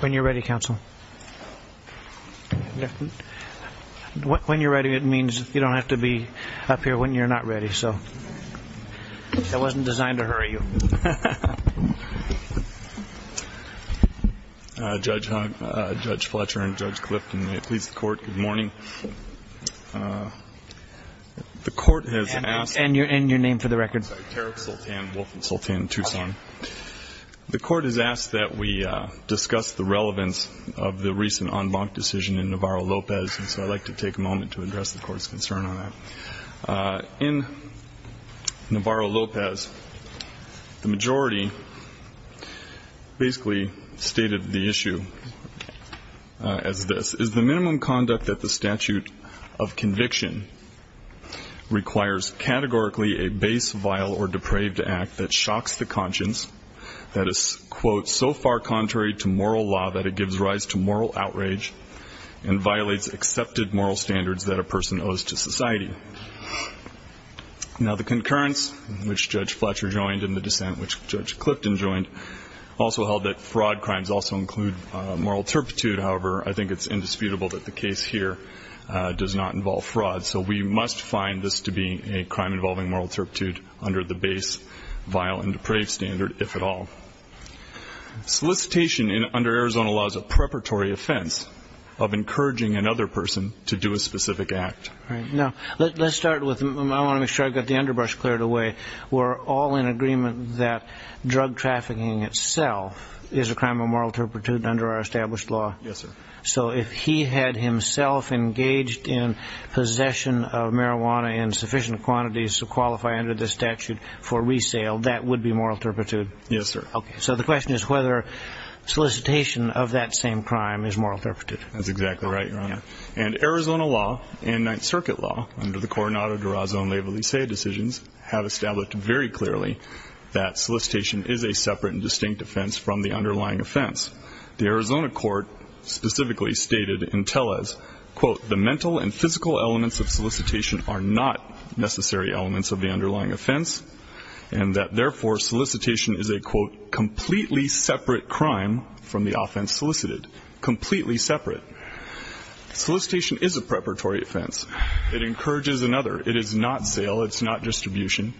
When you're ready, Counsel. When you're ready, it means you don't have to be up here when you're ready. Judge Fletcher and Judge Clifton, may it please the Court, good morning. The Court has asked... And your name for the record. Tariq Sultan, Wolf and Sultan, Tucson. The Court has asked that we discuss the relevance of the recent en banc decision in Navarro-Lopez, and so I'd like to take a moment to address the Court's concern on that. In Navarro-Lopez, the majority basically stated the issue as this, is the minimum conduct that the statute of conviction requires categorically a base, vile, or depraved act that shocks the conscience that is, quote, so far contrary to moral law that it gives rise to moral outrage and violates accepted moral standards that a person owes to society. Now the concurrence, which Judge Fletcher joined, and the dissent, which Judge Clifton joined, also held that fraud crimes also include moral turpitude. However, I think it's indisputable that the case here does not involve fraud. So we must find this to be a crime involving moral turpitude under the base, vile, and depraved standard, if at all. Solicitation under Arizona law is a preparatory offense of encouraging another person to do a specific act. Right. Now, let's start with, I want to make sure I've got the underbrush cleared away. We're all in agreement that drug trafficking itself is a crime of moral turpitude under our established law? Yes, sir. So if he had himself engaged in possession of marijuana in sufficient quantities to qualify under this statute for resale, that would be moral turpitude? Yes, sir. Okay. So the question is whether solicitation of that same crime is moral turpitude. That's exactly right, Your Honor. And Arizona law and Ninth Circuit law, under the Coronado de Raza and Leyva-Licea decisions, have established very clearly that solicitation is a separate and distinct offense from the underlying offense. The Arizona court specifically stated in Tellez, quote, the mental and physical elements of solicitation are not necessary elements of the underlying offense, and that, therefore, solicitation is a, quote, completely separate crime from the offense solicited. Completely separate. Solicitation is a preparatory offense. It encourages another. It is not sale. It's not distribution.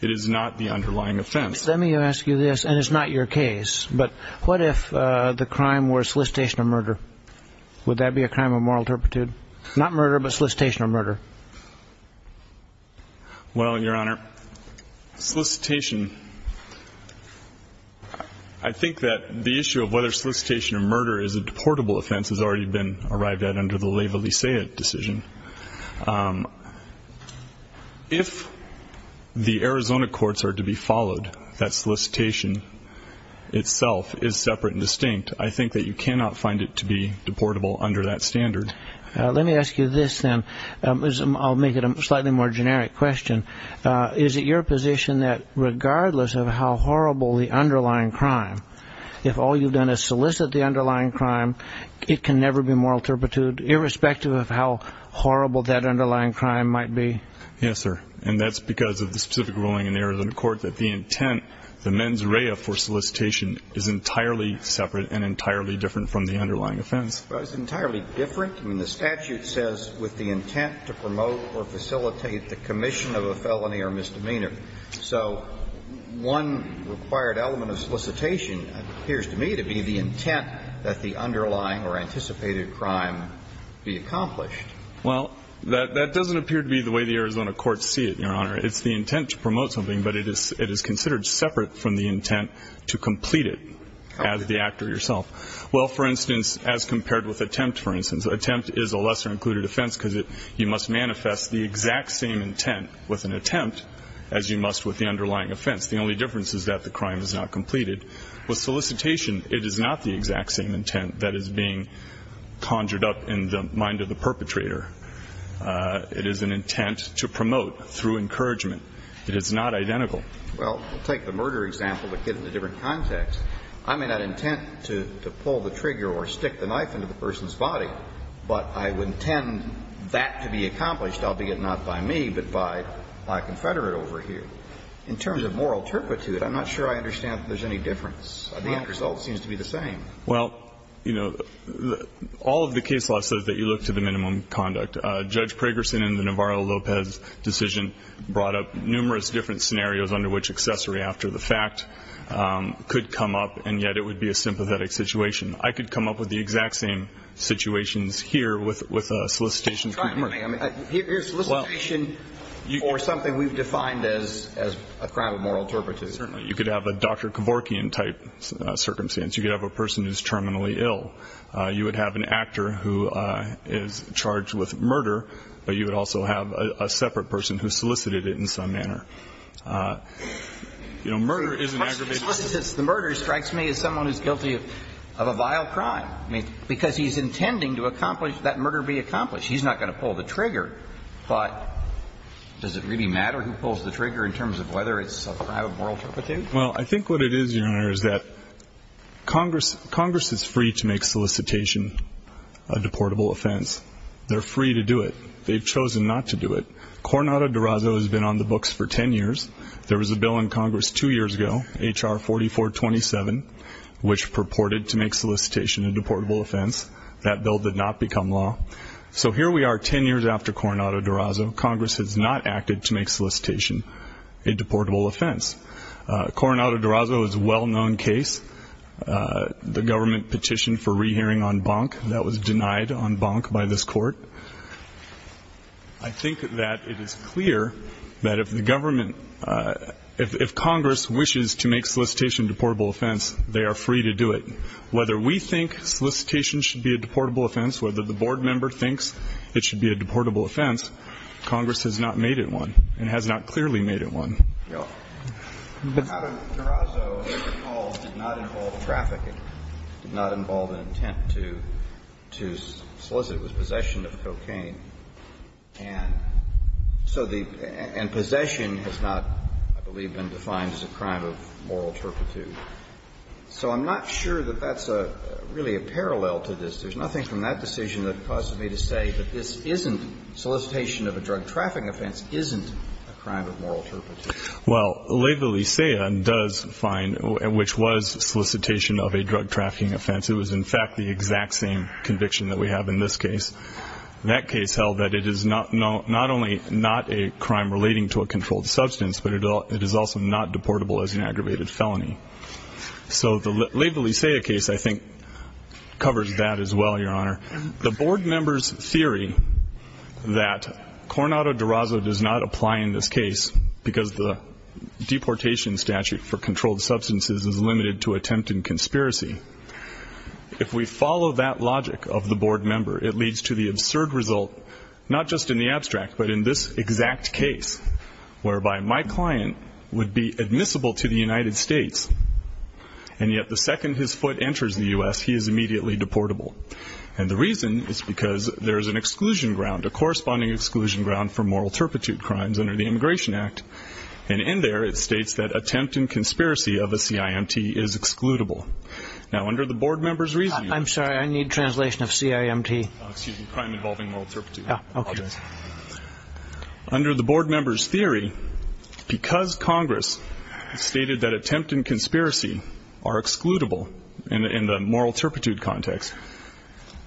It is not the underlying offense. Let me ask you this, and it's not your case, but what if the crime were solicitation of murder? Would that be a crime of moral turpitude? Not murder, but solicitation of murder. Well, Your Honor, solicitation, I think that the issue of whether solicitation of murder is a deportable offense has already been arrived at under the Leyva-Licea decision. If the Arizona courts are to be followed, that solicitation itself is separate and distinct, I think that you cannot find it to be deportable under that standard. Let me ask you this, then. I'll make it a slightly more generic question. Is it your position that regardless of how horrible the underlying crime, if all you've done is solicit the underlying crime, it can never be moral turpitude, irrespective of how horrible that underlying crime might be? Yes, sir. And that's because of the specific ruling in the Arizona court that the intent, the mens rea for solicitation, is entirely separate and entirely different from the underlying offense. Well, it's entirely different. I mean, the statute says, with the intent to promote or facilitate the commission of a felony or misdemeanor. So one required element of solicitation appears to me to be the intent that the underlying or anticipated crime be accomplished. Well, that doesn't appear to be the way the Arizona courts see it, Your Honor. It's the intent to promote something, but it is considered separate from the intent to complete it as the actor yourself. Well, for instance, as compared with attempt, for instance, attempt is a lesser included offense because you must manifest the exact same intent with an attempt as you must with the underlying offense. The only difference is that the crime is not completed. With solicitation, it is not the exact same intent that is being conjured up in the mind of the perpetrator. It is an intent to promote through encouragement. It is not identical. Well, take the murder example, but give it a different context. I may not intend to pull the trigger or stick the knife into the person's body, but I would intend that to be accomplished, albeit not by me, but by a confederate over here. In terms of moral turpitude, I'm not sure I understand if there's any difference. The end result seems to be the same. Well, you know, all of the case law says that you look to the minimum conduct. Judge Pragerson in the Navarro-Lopez decision brought up numerous different scenarios under which accessory after the fact could come up, and yet it would be a sympathetic situation. I could come up with the exact same situations here with a solicitation. Try it for me. I mean, here's solicitation for something we've defined as a crime of moral turpitude. Certainly. You could have a Dr. Kevorkian-type circumstance. You could have a person who's terminally ill. You would have an actor who is charged with murder, but you would also have a separate person who solicited it in some manner. You know, murder is an aggravation. The murder strikes me as someone who's guilty of a vile crime, because he's intending to accomplish that murder be accomplished. He's not going to pull the trigger, but does it really matter who pulls the trigger in terms of whether it's a crime of moral turpitude? Well, I think what it is, Your Honor, is that Congress is free to make solicitation a deportable offense. They're free to do it. They've chosen not to do it. Coronado-Durazo has been on the books for ten years. There was a bill in Congress two years ago, H.R. 4427, which purported to make solicitation a deportable offense. That bill did not become law. So here we are ten years after Coronado-Durazo. Congress has not acted to make solicitation a deportable offense. Coronado-Durazo is a well-known case. The government petitioned for rehearing on Bonk. That was denied on Bonk by this Court. I think that it is clear that if the government, if Congress wishes to make solicitation a deportable offense, they are free to do it. Whether we think solicitation should be a deportable offense, whether the board member thinks it should be a deportable offense, Congress has not made it one and has not clearly made it one. Alito, I think you're up. Coronado-Durazo, as it recalls, did not involve trafficking, did not involve an intent to solicit. It was possession of cocaine. And so the — and possession has not, I believe, been defined as a crime of moral turpitude. So I'm not sure that that's really a parallel to this. There's nothing from that decision that causes me to say that this isn't — solicitation of a drug trafficking offense isn't a crime of moral turpitude. Well, Laid the Licea does find — which was solicitation of a drug trafficking offense. It was, in fact, the exact same conviction that we have in this case. That case held that it is not only not a crime relating to a controlled substance, but it is also not deportable as an aggravated felony. So the Laid the Licea case, I think, covers that as well, Your Honor. The board member's theory that Coronado-Durazo does not apply in this case because the deportation statute for controlled substances is limited to attempt and conspiracy, if we follow that logic of the board member, it leads to the absurd result, not just in the abstract, but in this exact case, whereby my client would be admissible to the United States, and yet the second his foot enters the U.S., he is immediately deportable. And the reason is because there is an exclusion ground, a corresponding exclusion ground, for moral turpitude crimes under the Immigration Act. And in there, it states that attempt and conspiracy of a CIMT is excludable. Now, under the board member's reason — I'm sorry, I need translation of CIMT. Oh, excuse me, crime involving moral turpitude. Yeah, okay. Under the board member's theory, because Congress stated that attempt and conspiracy is limited to attempt and conspiracy,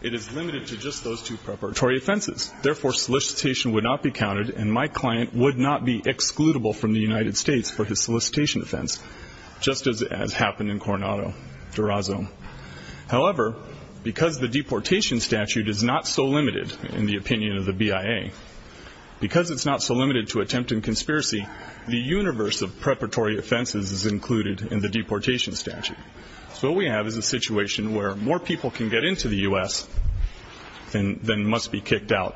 it is limited to just those two preparatory offenses. Therefore, solicitation would not be counted, and my client would not be excludable from the United States for his solicitation offense, just as happened in Coronado-Durazo. However, because the deportation statute is not so limited, in the opinion of the BIA, because it's not so limited to attempt and conspiracy, the universe of preparatory offenses is included in the deportation statute. So what we have is a situation where more people can get into the U.S. than must be kicked out.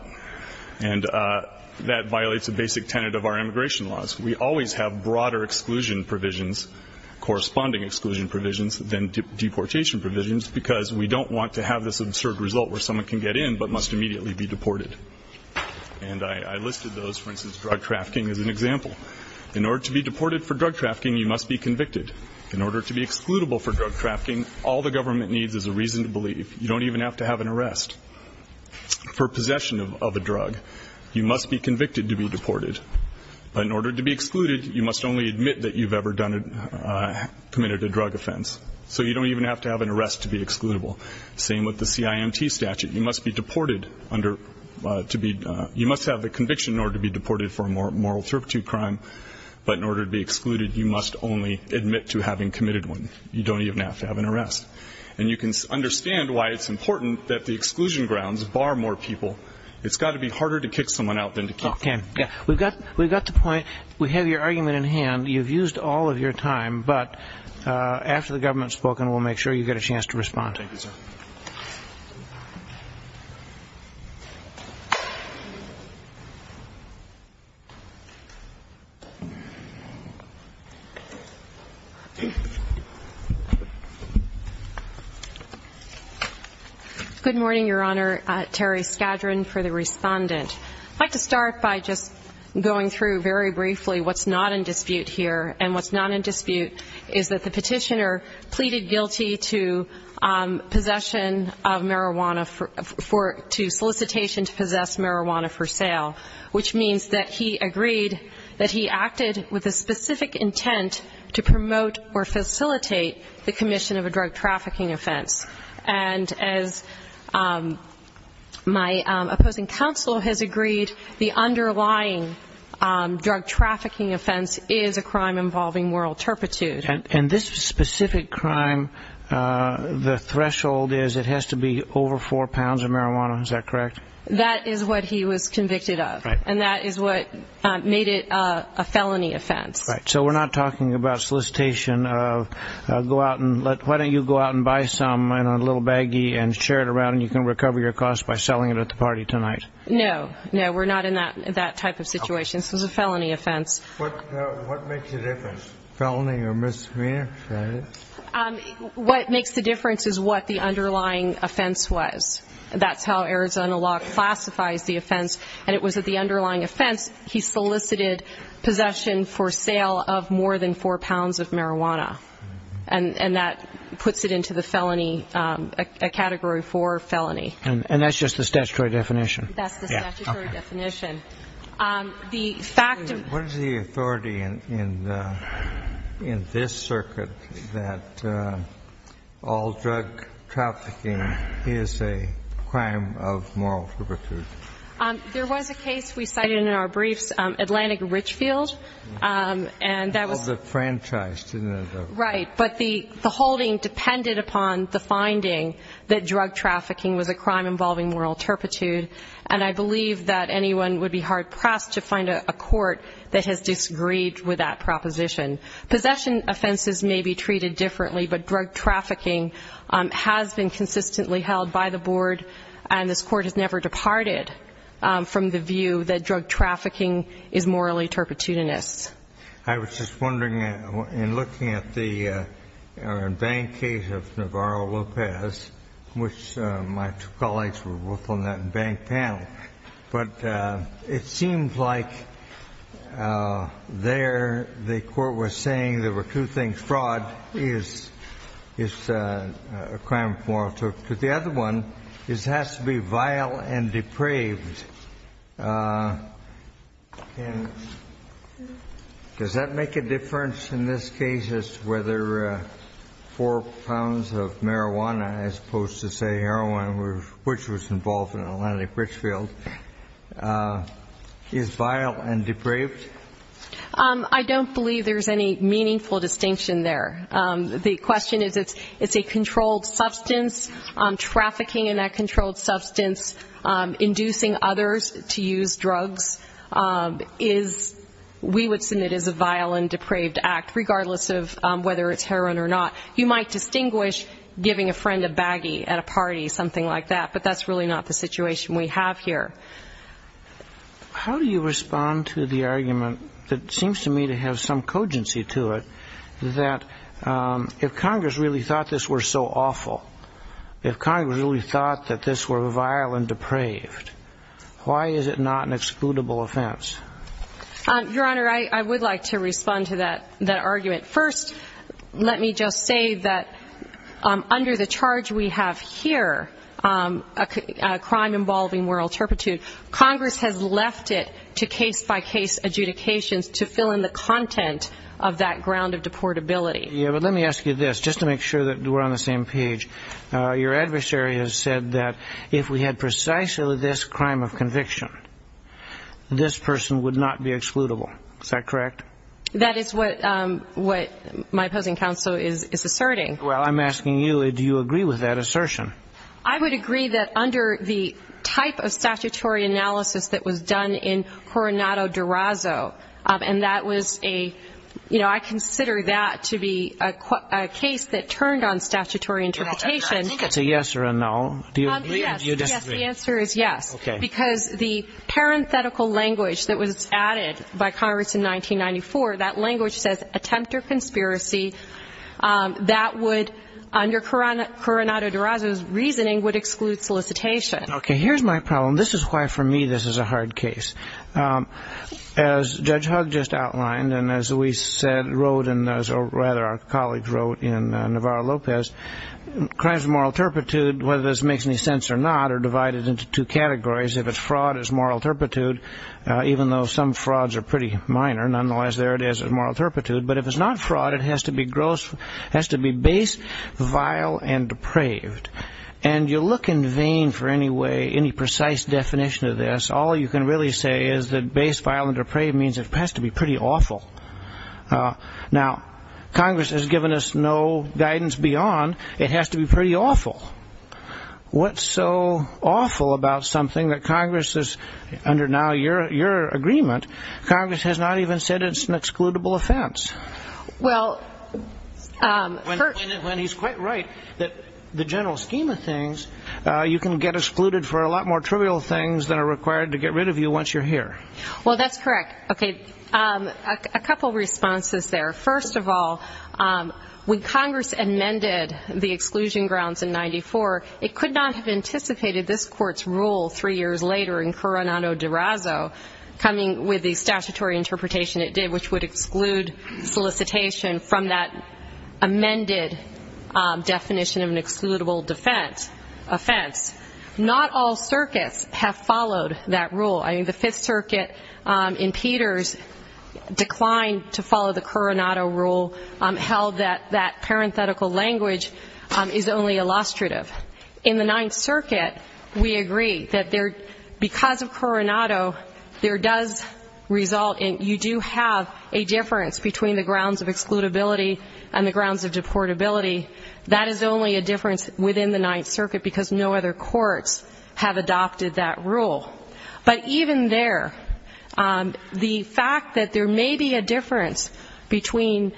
And that violates a basic tenet of our immigration laws. We always have broader exclusion provisions, corresponding exclusion provisions, than deportation provisions, because we don't want to have this absurd result where someone can get in but must immediately be deported. And I listed those, for instance, drug trafficking, as an example. In order to be deported for drug trafficking, you must be convicted. In order to be excludable for drug trafficking, all the reason to believe, you don't even have to have an arrest. For possession of a drug, you must be convicted to be deported. But in order to be excluded, you must only admit that you've ever committed a drug offense. So you don't even have to have an arrest to be excludable. Same with the CIMT statute. You must be deported under, to be, you must have the conviction in order to be deported for a moral turpitude crime. But in order to be excluded, you must only admit to having been convicted. And I understand why it's important that the exclusion grounds bar more people. It's got to be harder to kick someone out than to keep them. Okay. We've got the point. We have your argument in hand. You've used all of your time. But after the government has spoken, we'll make sure you get a chance to respond. Thank you, sir. Good morning, Your Honor. Terry Skadron for the Respondent. I'd like to start by just going through very briefly what's not in dispute here. And what's not in solicitation to possess marijuana for sale, which means that he agreed, that he acted with a specific intent to promote or facilitate the commission of a drug trafficking offense. And as my opposing counsel has agreed, the underlying drug trafficking offense is a crime involving moral turpitude. And this specific crime, the threshold is it has to be over four pounds of marijuana. Is that correct? That is what he was convicted of. And that is what made it a felony offense. Right. So we're not talking about solicitation of go out and let, why don't you go out and buy some in a little baggie and share it around and you can recover your costs by selling it at the party tonight? No, no, we're not in that type of situation. This is a felony offense. What makes the difference? Felony or misdemeanor? What makes the difference is what the underlying offense was. That's how Arizona law classifies the offense. And it was that the underlying offense, he solicited possession for sale of more than four pounds of marijuana. And that puts it into the felony, a category four felony. And that's just the statutory definition? That's the statutory definition. What is the authority in this circuit that all drug trafficking is a crime of moral turpitude? There was a case we cited in our briefs, Atlantic Richfield, and that was All the franchise, didn't it? Right. But the holding depended upon the finding that drug trafficking was a crime involving moral turpitude. And I believe that anyone with a criminal record would be hard-pressed to find a court that has disagreed with that proposition. Possession offenses may be treated differently, but drug trafficking has been consistently held by the board. And this court has never departed from the view that drug trafficking is morally turpitudinous. I was just wondering, in looking at the bank case of Navarro-Lopez, which my colleague was talking about, it seemed like there, the court was saying there were two things. Fraud is a crime of moral turpitude. The other one is it has to be vile and depraved. And does that make a difference in this case as to whether four pounds of marijuana, as opposed to, say, heroin, which was involved in Atlantic Richfield, is vile and depraved? I don't believe there's any meaningful distinction there. The question is, it's a controlled substance. Trafficking in that controlled substance, inducing others to use drugs, is, we would see it as a vile and depraved act, regardless of whether it's heroin or not. You might distinguish giving a friend a baggie at a How do you respond to the argument that seems to me to have some cogency to it, that if Congress really thought this were so awful, if Congress really thought that this were vile and depraved, why is it not an excludable offense? Your Honor, I would like to respond to that argument. First, let me just say that under the charge we have here, a crime involving moral turpitude, Congress has left it to case-by-case adjudications to fill in the content of that ground of deportability. Yeah, but let me ask you this, just to make sure that we're on the same page. Your adversary has said that if we had precisely this crime of conviction, this person would not be excludable. Is that correct? That is what my opposing counsel is asserting. Well, I'm asking you, do you agree with that assertion? I would agree that under the type of statutory analysis that was done in Coronado Durazo, and that was a, you know, I consider that to be a case that turned on statutory interpretation. I think it's a yes or a no. Do you agree or do you disagree? Yes, the answer is yes, because the parenthetical language that was added by Congress in 1994, that language says attempt or conspiracy, that would, under Coronado Durazo's reasoning, would exclude solicitation. Okay, here's my problem. This is why for me this is a hard case. As Judge Hugg just outlined, and as we said, wrote, or rather our colleagues wrote in Navarro-Lopez, crimes of moral turpitude, whether this makes any sense or not, are divided into two minor. Nonetheless, there it is, moral turpitude. But if it's not fraud, it has to be base, vile, and depraved. And you look in vain for any precise definition of this. All you can really say is that base, vile, and depraved means it has to be pretty awful. Now, Congress has given us no guidance beyond it has to be pretty awful. What's so awful about something that Congress is, under now your agreement, Congress has not even said it's an excludable offense? When he's quite right, that the general scheme of things, you can get excluded for a lot more trivial things than are required to get rid of you once you're here. Well, that's correct. Okay, a couple responses there. First of all, when Congress amended the exclusion grounds in 94, it could not have anticipated this Court's rule three years later in Coronado de Razo, coming with the statutory interpretation it did, which would exclude solicitation from that amended definition of an excludable offense. Not all circuits have followed that rule. I mean, the Fifth Circuit in Peters declined to follow the Coronado rule, held that that parenthetical language is only illustrative. In the Ninth Circuit, we agree that because of Coronado, there does result in you do have a difference between the grounds of excludability and the grounds of deportability. That is only a difference within the Ninth Circuit, because no other courts have adopted that rule. But even there, the fact that there may be a difference between,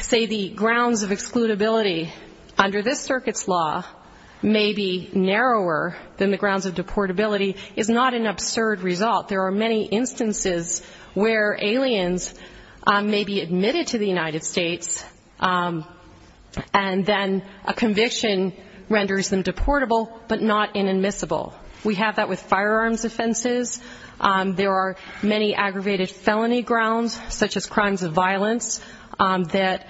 say, the grounds of deportability is not an absurd result. There are many instances where aliens may be admitted to the United States, and then a conviction renders them deportable, but not inadmissible. We have that with firearms offenses. There are many aggravated felony grounds, such as crimes of violence, that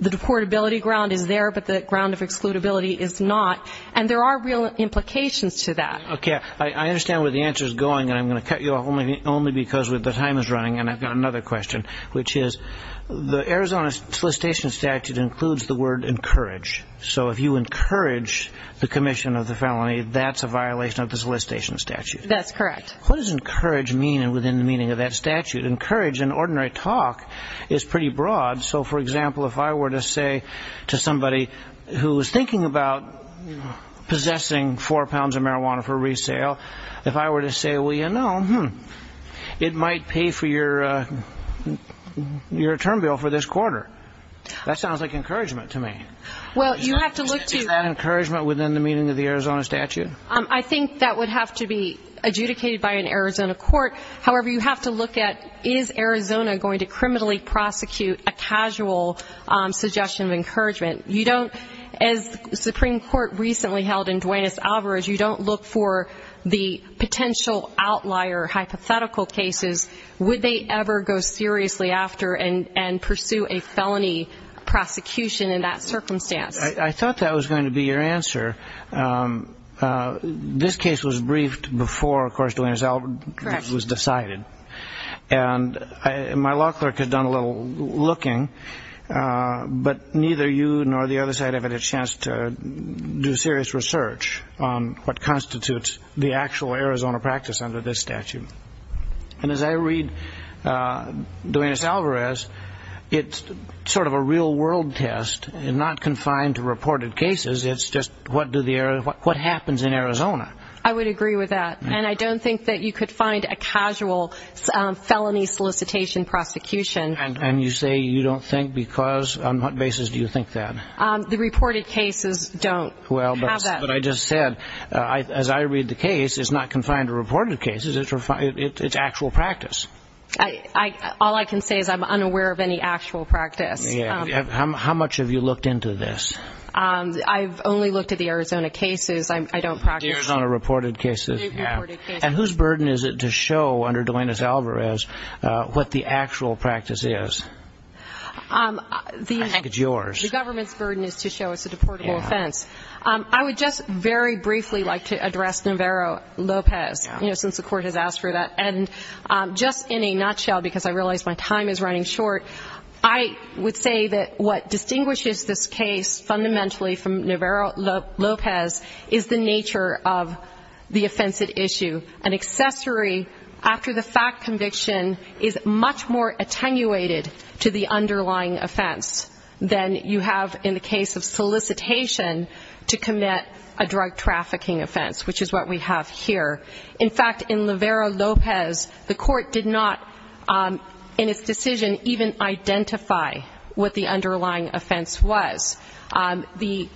the deportability ground is there, but the ground of excludability is not. And there are real implications to that. I understand where the answer is going, and I'm going to cut you off only because the time is running. And I've got another question, which is, the Arizona solicitation statute includes the word encourage. So if you encourage the commission of the felony, that's a violation of the solicitation statute. That's correct. What does encourage mean within the meaning of that statute? Encourage, in ordinary talk, is pretty broad. So, for example, if I were to say to somebody who was thinking about possessing four pounds of marijuana for resale, if I were to say, well, you know, it might pay for your term bill for this quarter. That sounds like encouragement to me. Is that encouragement within the meaning of the Arizona statute? I think that would have to be adjudicated by an Arizona court. However, you have to look at, is Arizona going to criminally prosecute a casual suggestion of encouragement? You don't, as the Supreme Court recently held in Duaneis Alvarez, you don't look for the potential outlier hypothetical cases. Would they ever go seriously after and pursue a felony prosecution in that circumstance? I thought that was going to be your answer. This case was briefed before, of course, Duaneis Alvarez was decided. And my law clerk had done a little looking, but neither you nor the other side have had a chance to do serious research on what constitutes the actual Arizona practice under this statute. And as I read Duaneis Alvarez, it's sort of a real-world test, not confined to reported cases. It's just what happens in Arizona. I would agree with that. And I don't think that you could find a casual felony solicitation prosecution. And you say you don't think because, on what basis do you think that? The reported cases don't have that. As I read the case, it's not confined to reported cases. It's actual practice. All I can say is I'm unaware of any actual practice. How much have you looked into this? I've only looked at the Arizona reported cases. And whose burden is it to show under Duaneis Alvarez what the actual practice is? I think it's yours. The government's burden is to show it's a deportable offense. I would just very briefly like to address Navarro-Lopez, since the court has asked for that. And just in a nutshell, because I realize my time is running short, I would say that what distinguishes this case fundamentally from Navarro-Lopez is the nature of the offense at issue. An accessory after the fact conviction is much more attenuated to the underlying offense than you have in the case of solicitation to commit a drug trafficking offense, which is what we have here. In fact, in Navarro-Lopez, the court did not in its decision even identify what the underlying offense was. The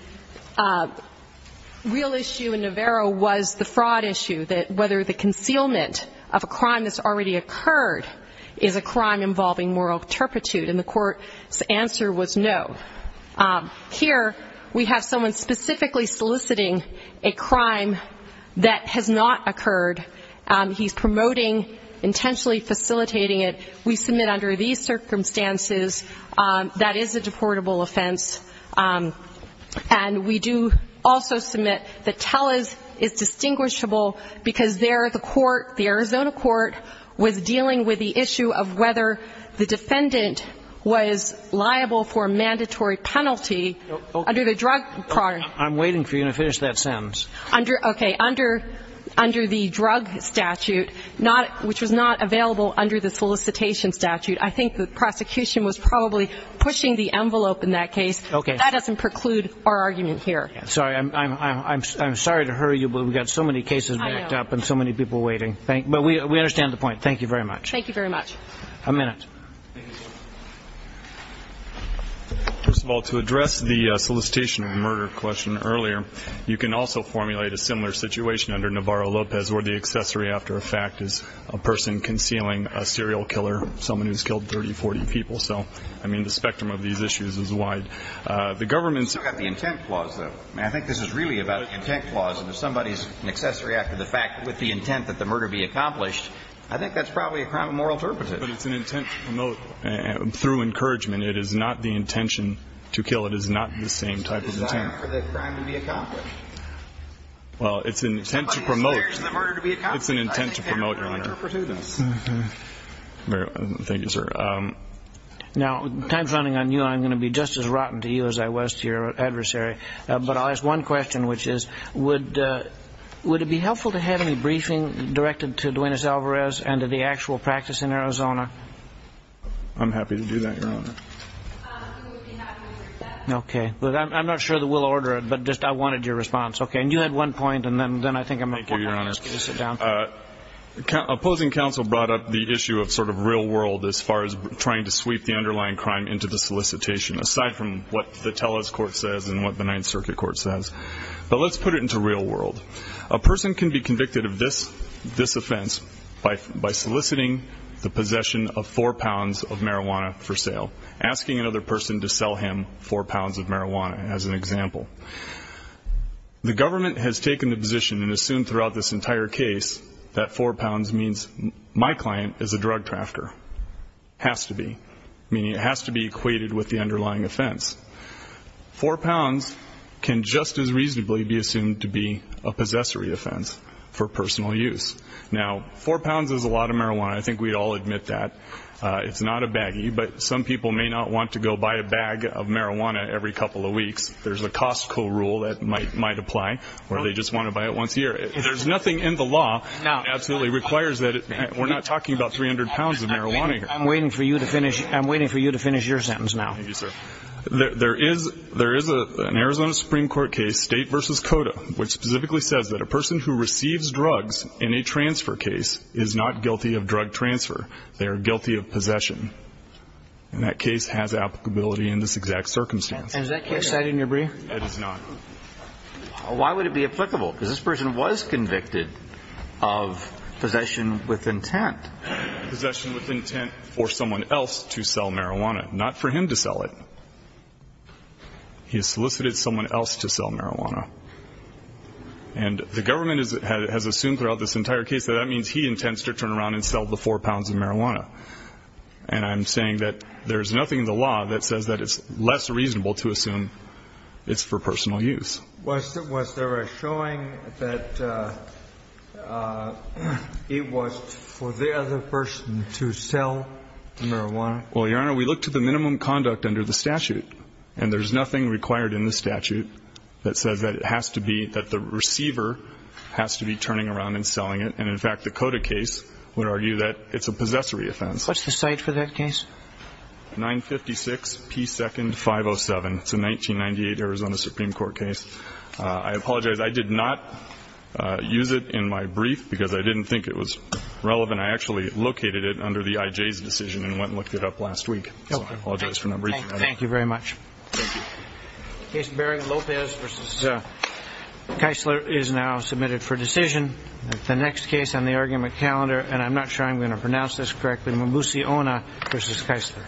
real issue in Navarro was the fraud issue, that whether the concealment of a crime that's already occurred is a crime involving moral turpitude, and the court's answer was no. Here we have someone specifically soliciting a crime that has not occurred. He's promoting, intentionally facilitating it. We submit under these circumstances that is a deportable offense, and we do also submit that Tellez is distinguishable because there the court, the Arizona court, was dealing with the issue of whether the defendant was liable for a mandatory penalty under the drug program. I think the prosecution was probably pushing the envelope in that case. That doesn't preclude our argument here. I'm sorry to hurry you, but we've got so many cases backed up and so many people waiting. But we understand the point. Thank you very much. First of all, to address the solicitation of murder question earlier, you can also formulate a similar situation under Navarro-Lopez where the accessory after a fact is a person concealing a serial killer, someone who's killed 30, 40 people. So, I mean, the spectrum of these issues is wide. We've still got the intent clause, though. I think this is really about the intent clause. And if somebody's an accessory after the fact with the intent that the murder be accomplished, I think that's probably a crime of moral turpitude. But it's an intent to promote through encouragement. It is not the intention to kill. It is not the same type of intent. Well, it's an intent to promote. It's an intent to promote, Your Honor. Thank you, sir. Now, time's running on you, and I'm going to be just as rotten to you as I was to your adversary. But I'll ask one question, which is, would it be helpful to have any briefing directed to Duenes Alvarez and to the actual practice in Arizona? I'm happy to do that, Your Honor. Okay. I'm not sure that we'll order it, but just I wanted your response. Okay. And you had one point, and then I think I'm going to ask you to sit down. Opposing counsel brought up the issue of sort of real world as far as trying to sweep the underlying crime into the solicitation, aside from what the Teles Court says and what the Ninth Circuit Court says. But let's put it into real world. A person can be convicted of this offense by soliciting the possession of four pounds of marijuana for sale, asking another person to sell him four pounds of marijuana, as an example. The government has taken the position and assumed throughout this entire case that four pounds means my client is a drug trafter, has to be, meaning it has to be equated with the underlying offense. Four pounds can just as reasonably be assumed to be a possessory offense for personal use. And I think we'd all admit that. It's not a baggie, but some people may not want to go buy a bag of marijuana every couple of weeks. There's a Costco rule that might apply, or they just want to buy it once a year. There's nothing in the law that absolutely requires that. We're not talking about 300 pounds of marijuana here. I'm waiting for you to finish your sentence now. There is an Arizona Supreme Court case, State v. Cota, which specifically says that a person who receives drugs in a transfer case is not guilty of drug transfer. They are guilty of possession. And that case has applicability in this exact circumstance. Why would it be applicable? Because this person was convicted of possession with intent. Possession with intent for someone else to sell marijuana, not for him to sell it. He has solicited someone else to sell marijuana. And the government has assumed throughout this entire case that that means he intends to turn around and sell the four pounds of marijuana. And I'm saying that there's nothing in the law that says that it's less reasonable to assume it's for personal use. Was there a showing that it was for the other person to sell marijuana? Well, Your Honor, we looked at the minimum conduct under the statute, and there's nothing required in the statute that says that it has to be, that the receiver has to be turning around and selling it. And, in fact, the Cota case would argue that it's a possessory offense. What's the site for that case? 956 P. 2nd, 507. It's a 1998 Arizona Supreme Court case. I apologize. I did not use it in my brief because I didn't think it was relevant. I actually located it under the IJ's decision and went and looked it up last week. So I apologize for not bringing it up. Thank you very much. Thank you. Case Berrigan-Lopez v. Keisler is now submitted for decision. The next case on the argument calendar, and I'm not sure I'm going to pronounce this correctly, Mabuse-Ona v. Keisler.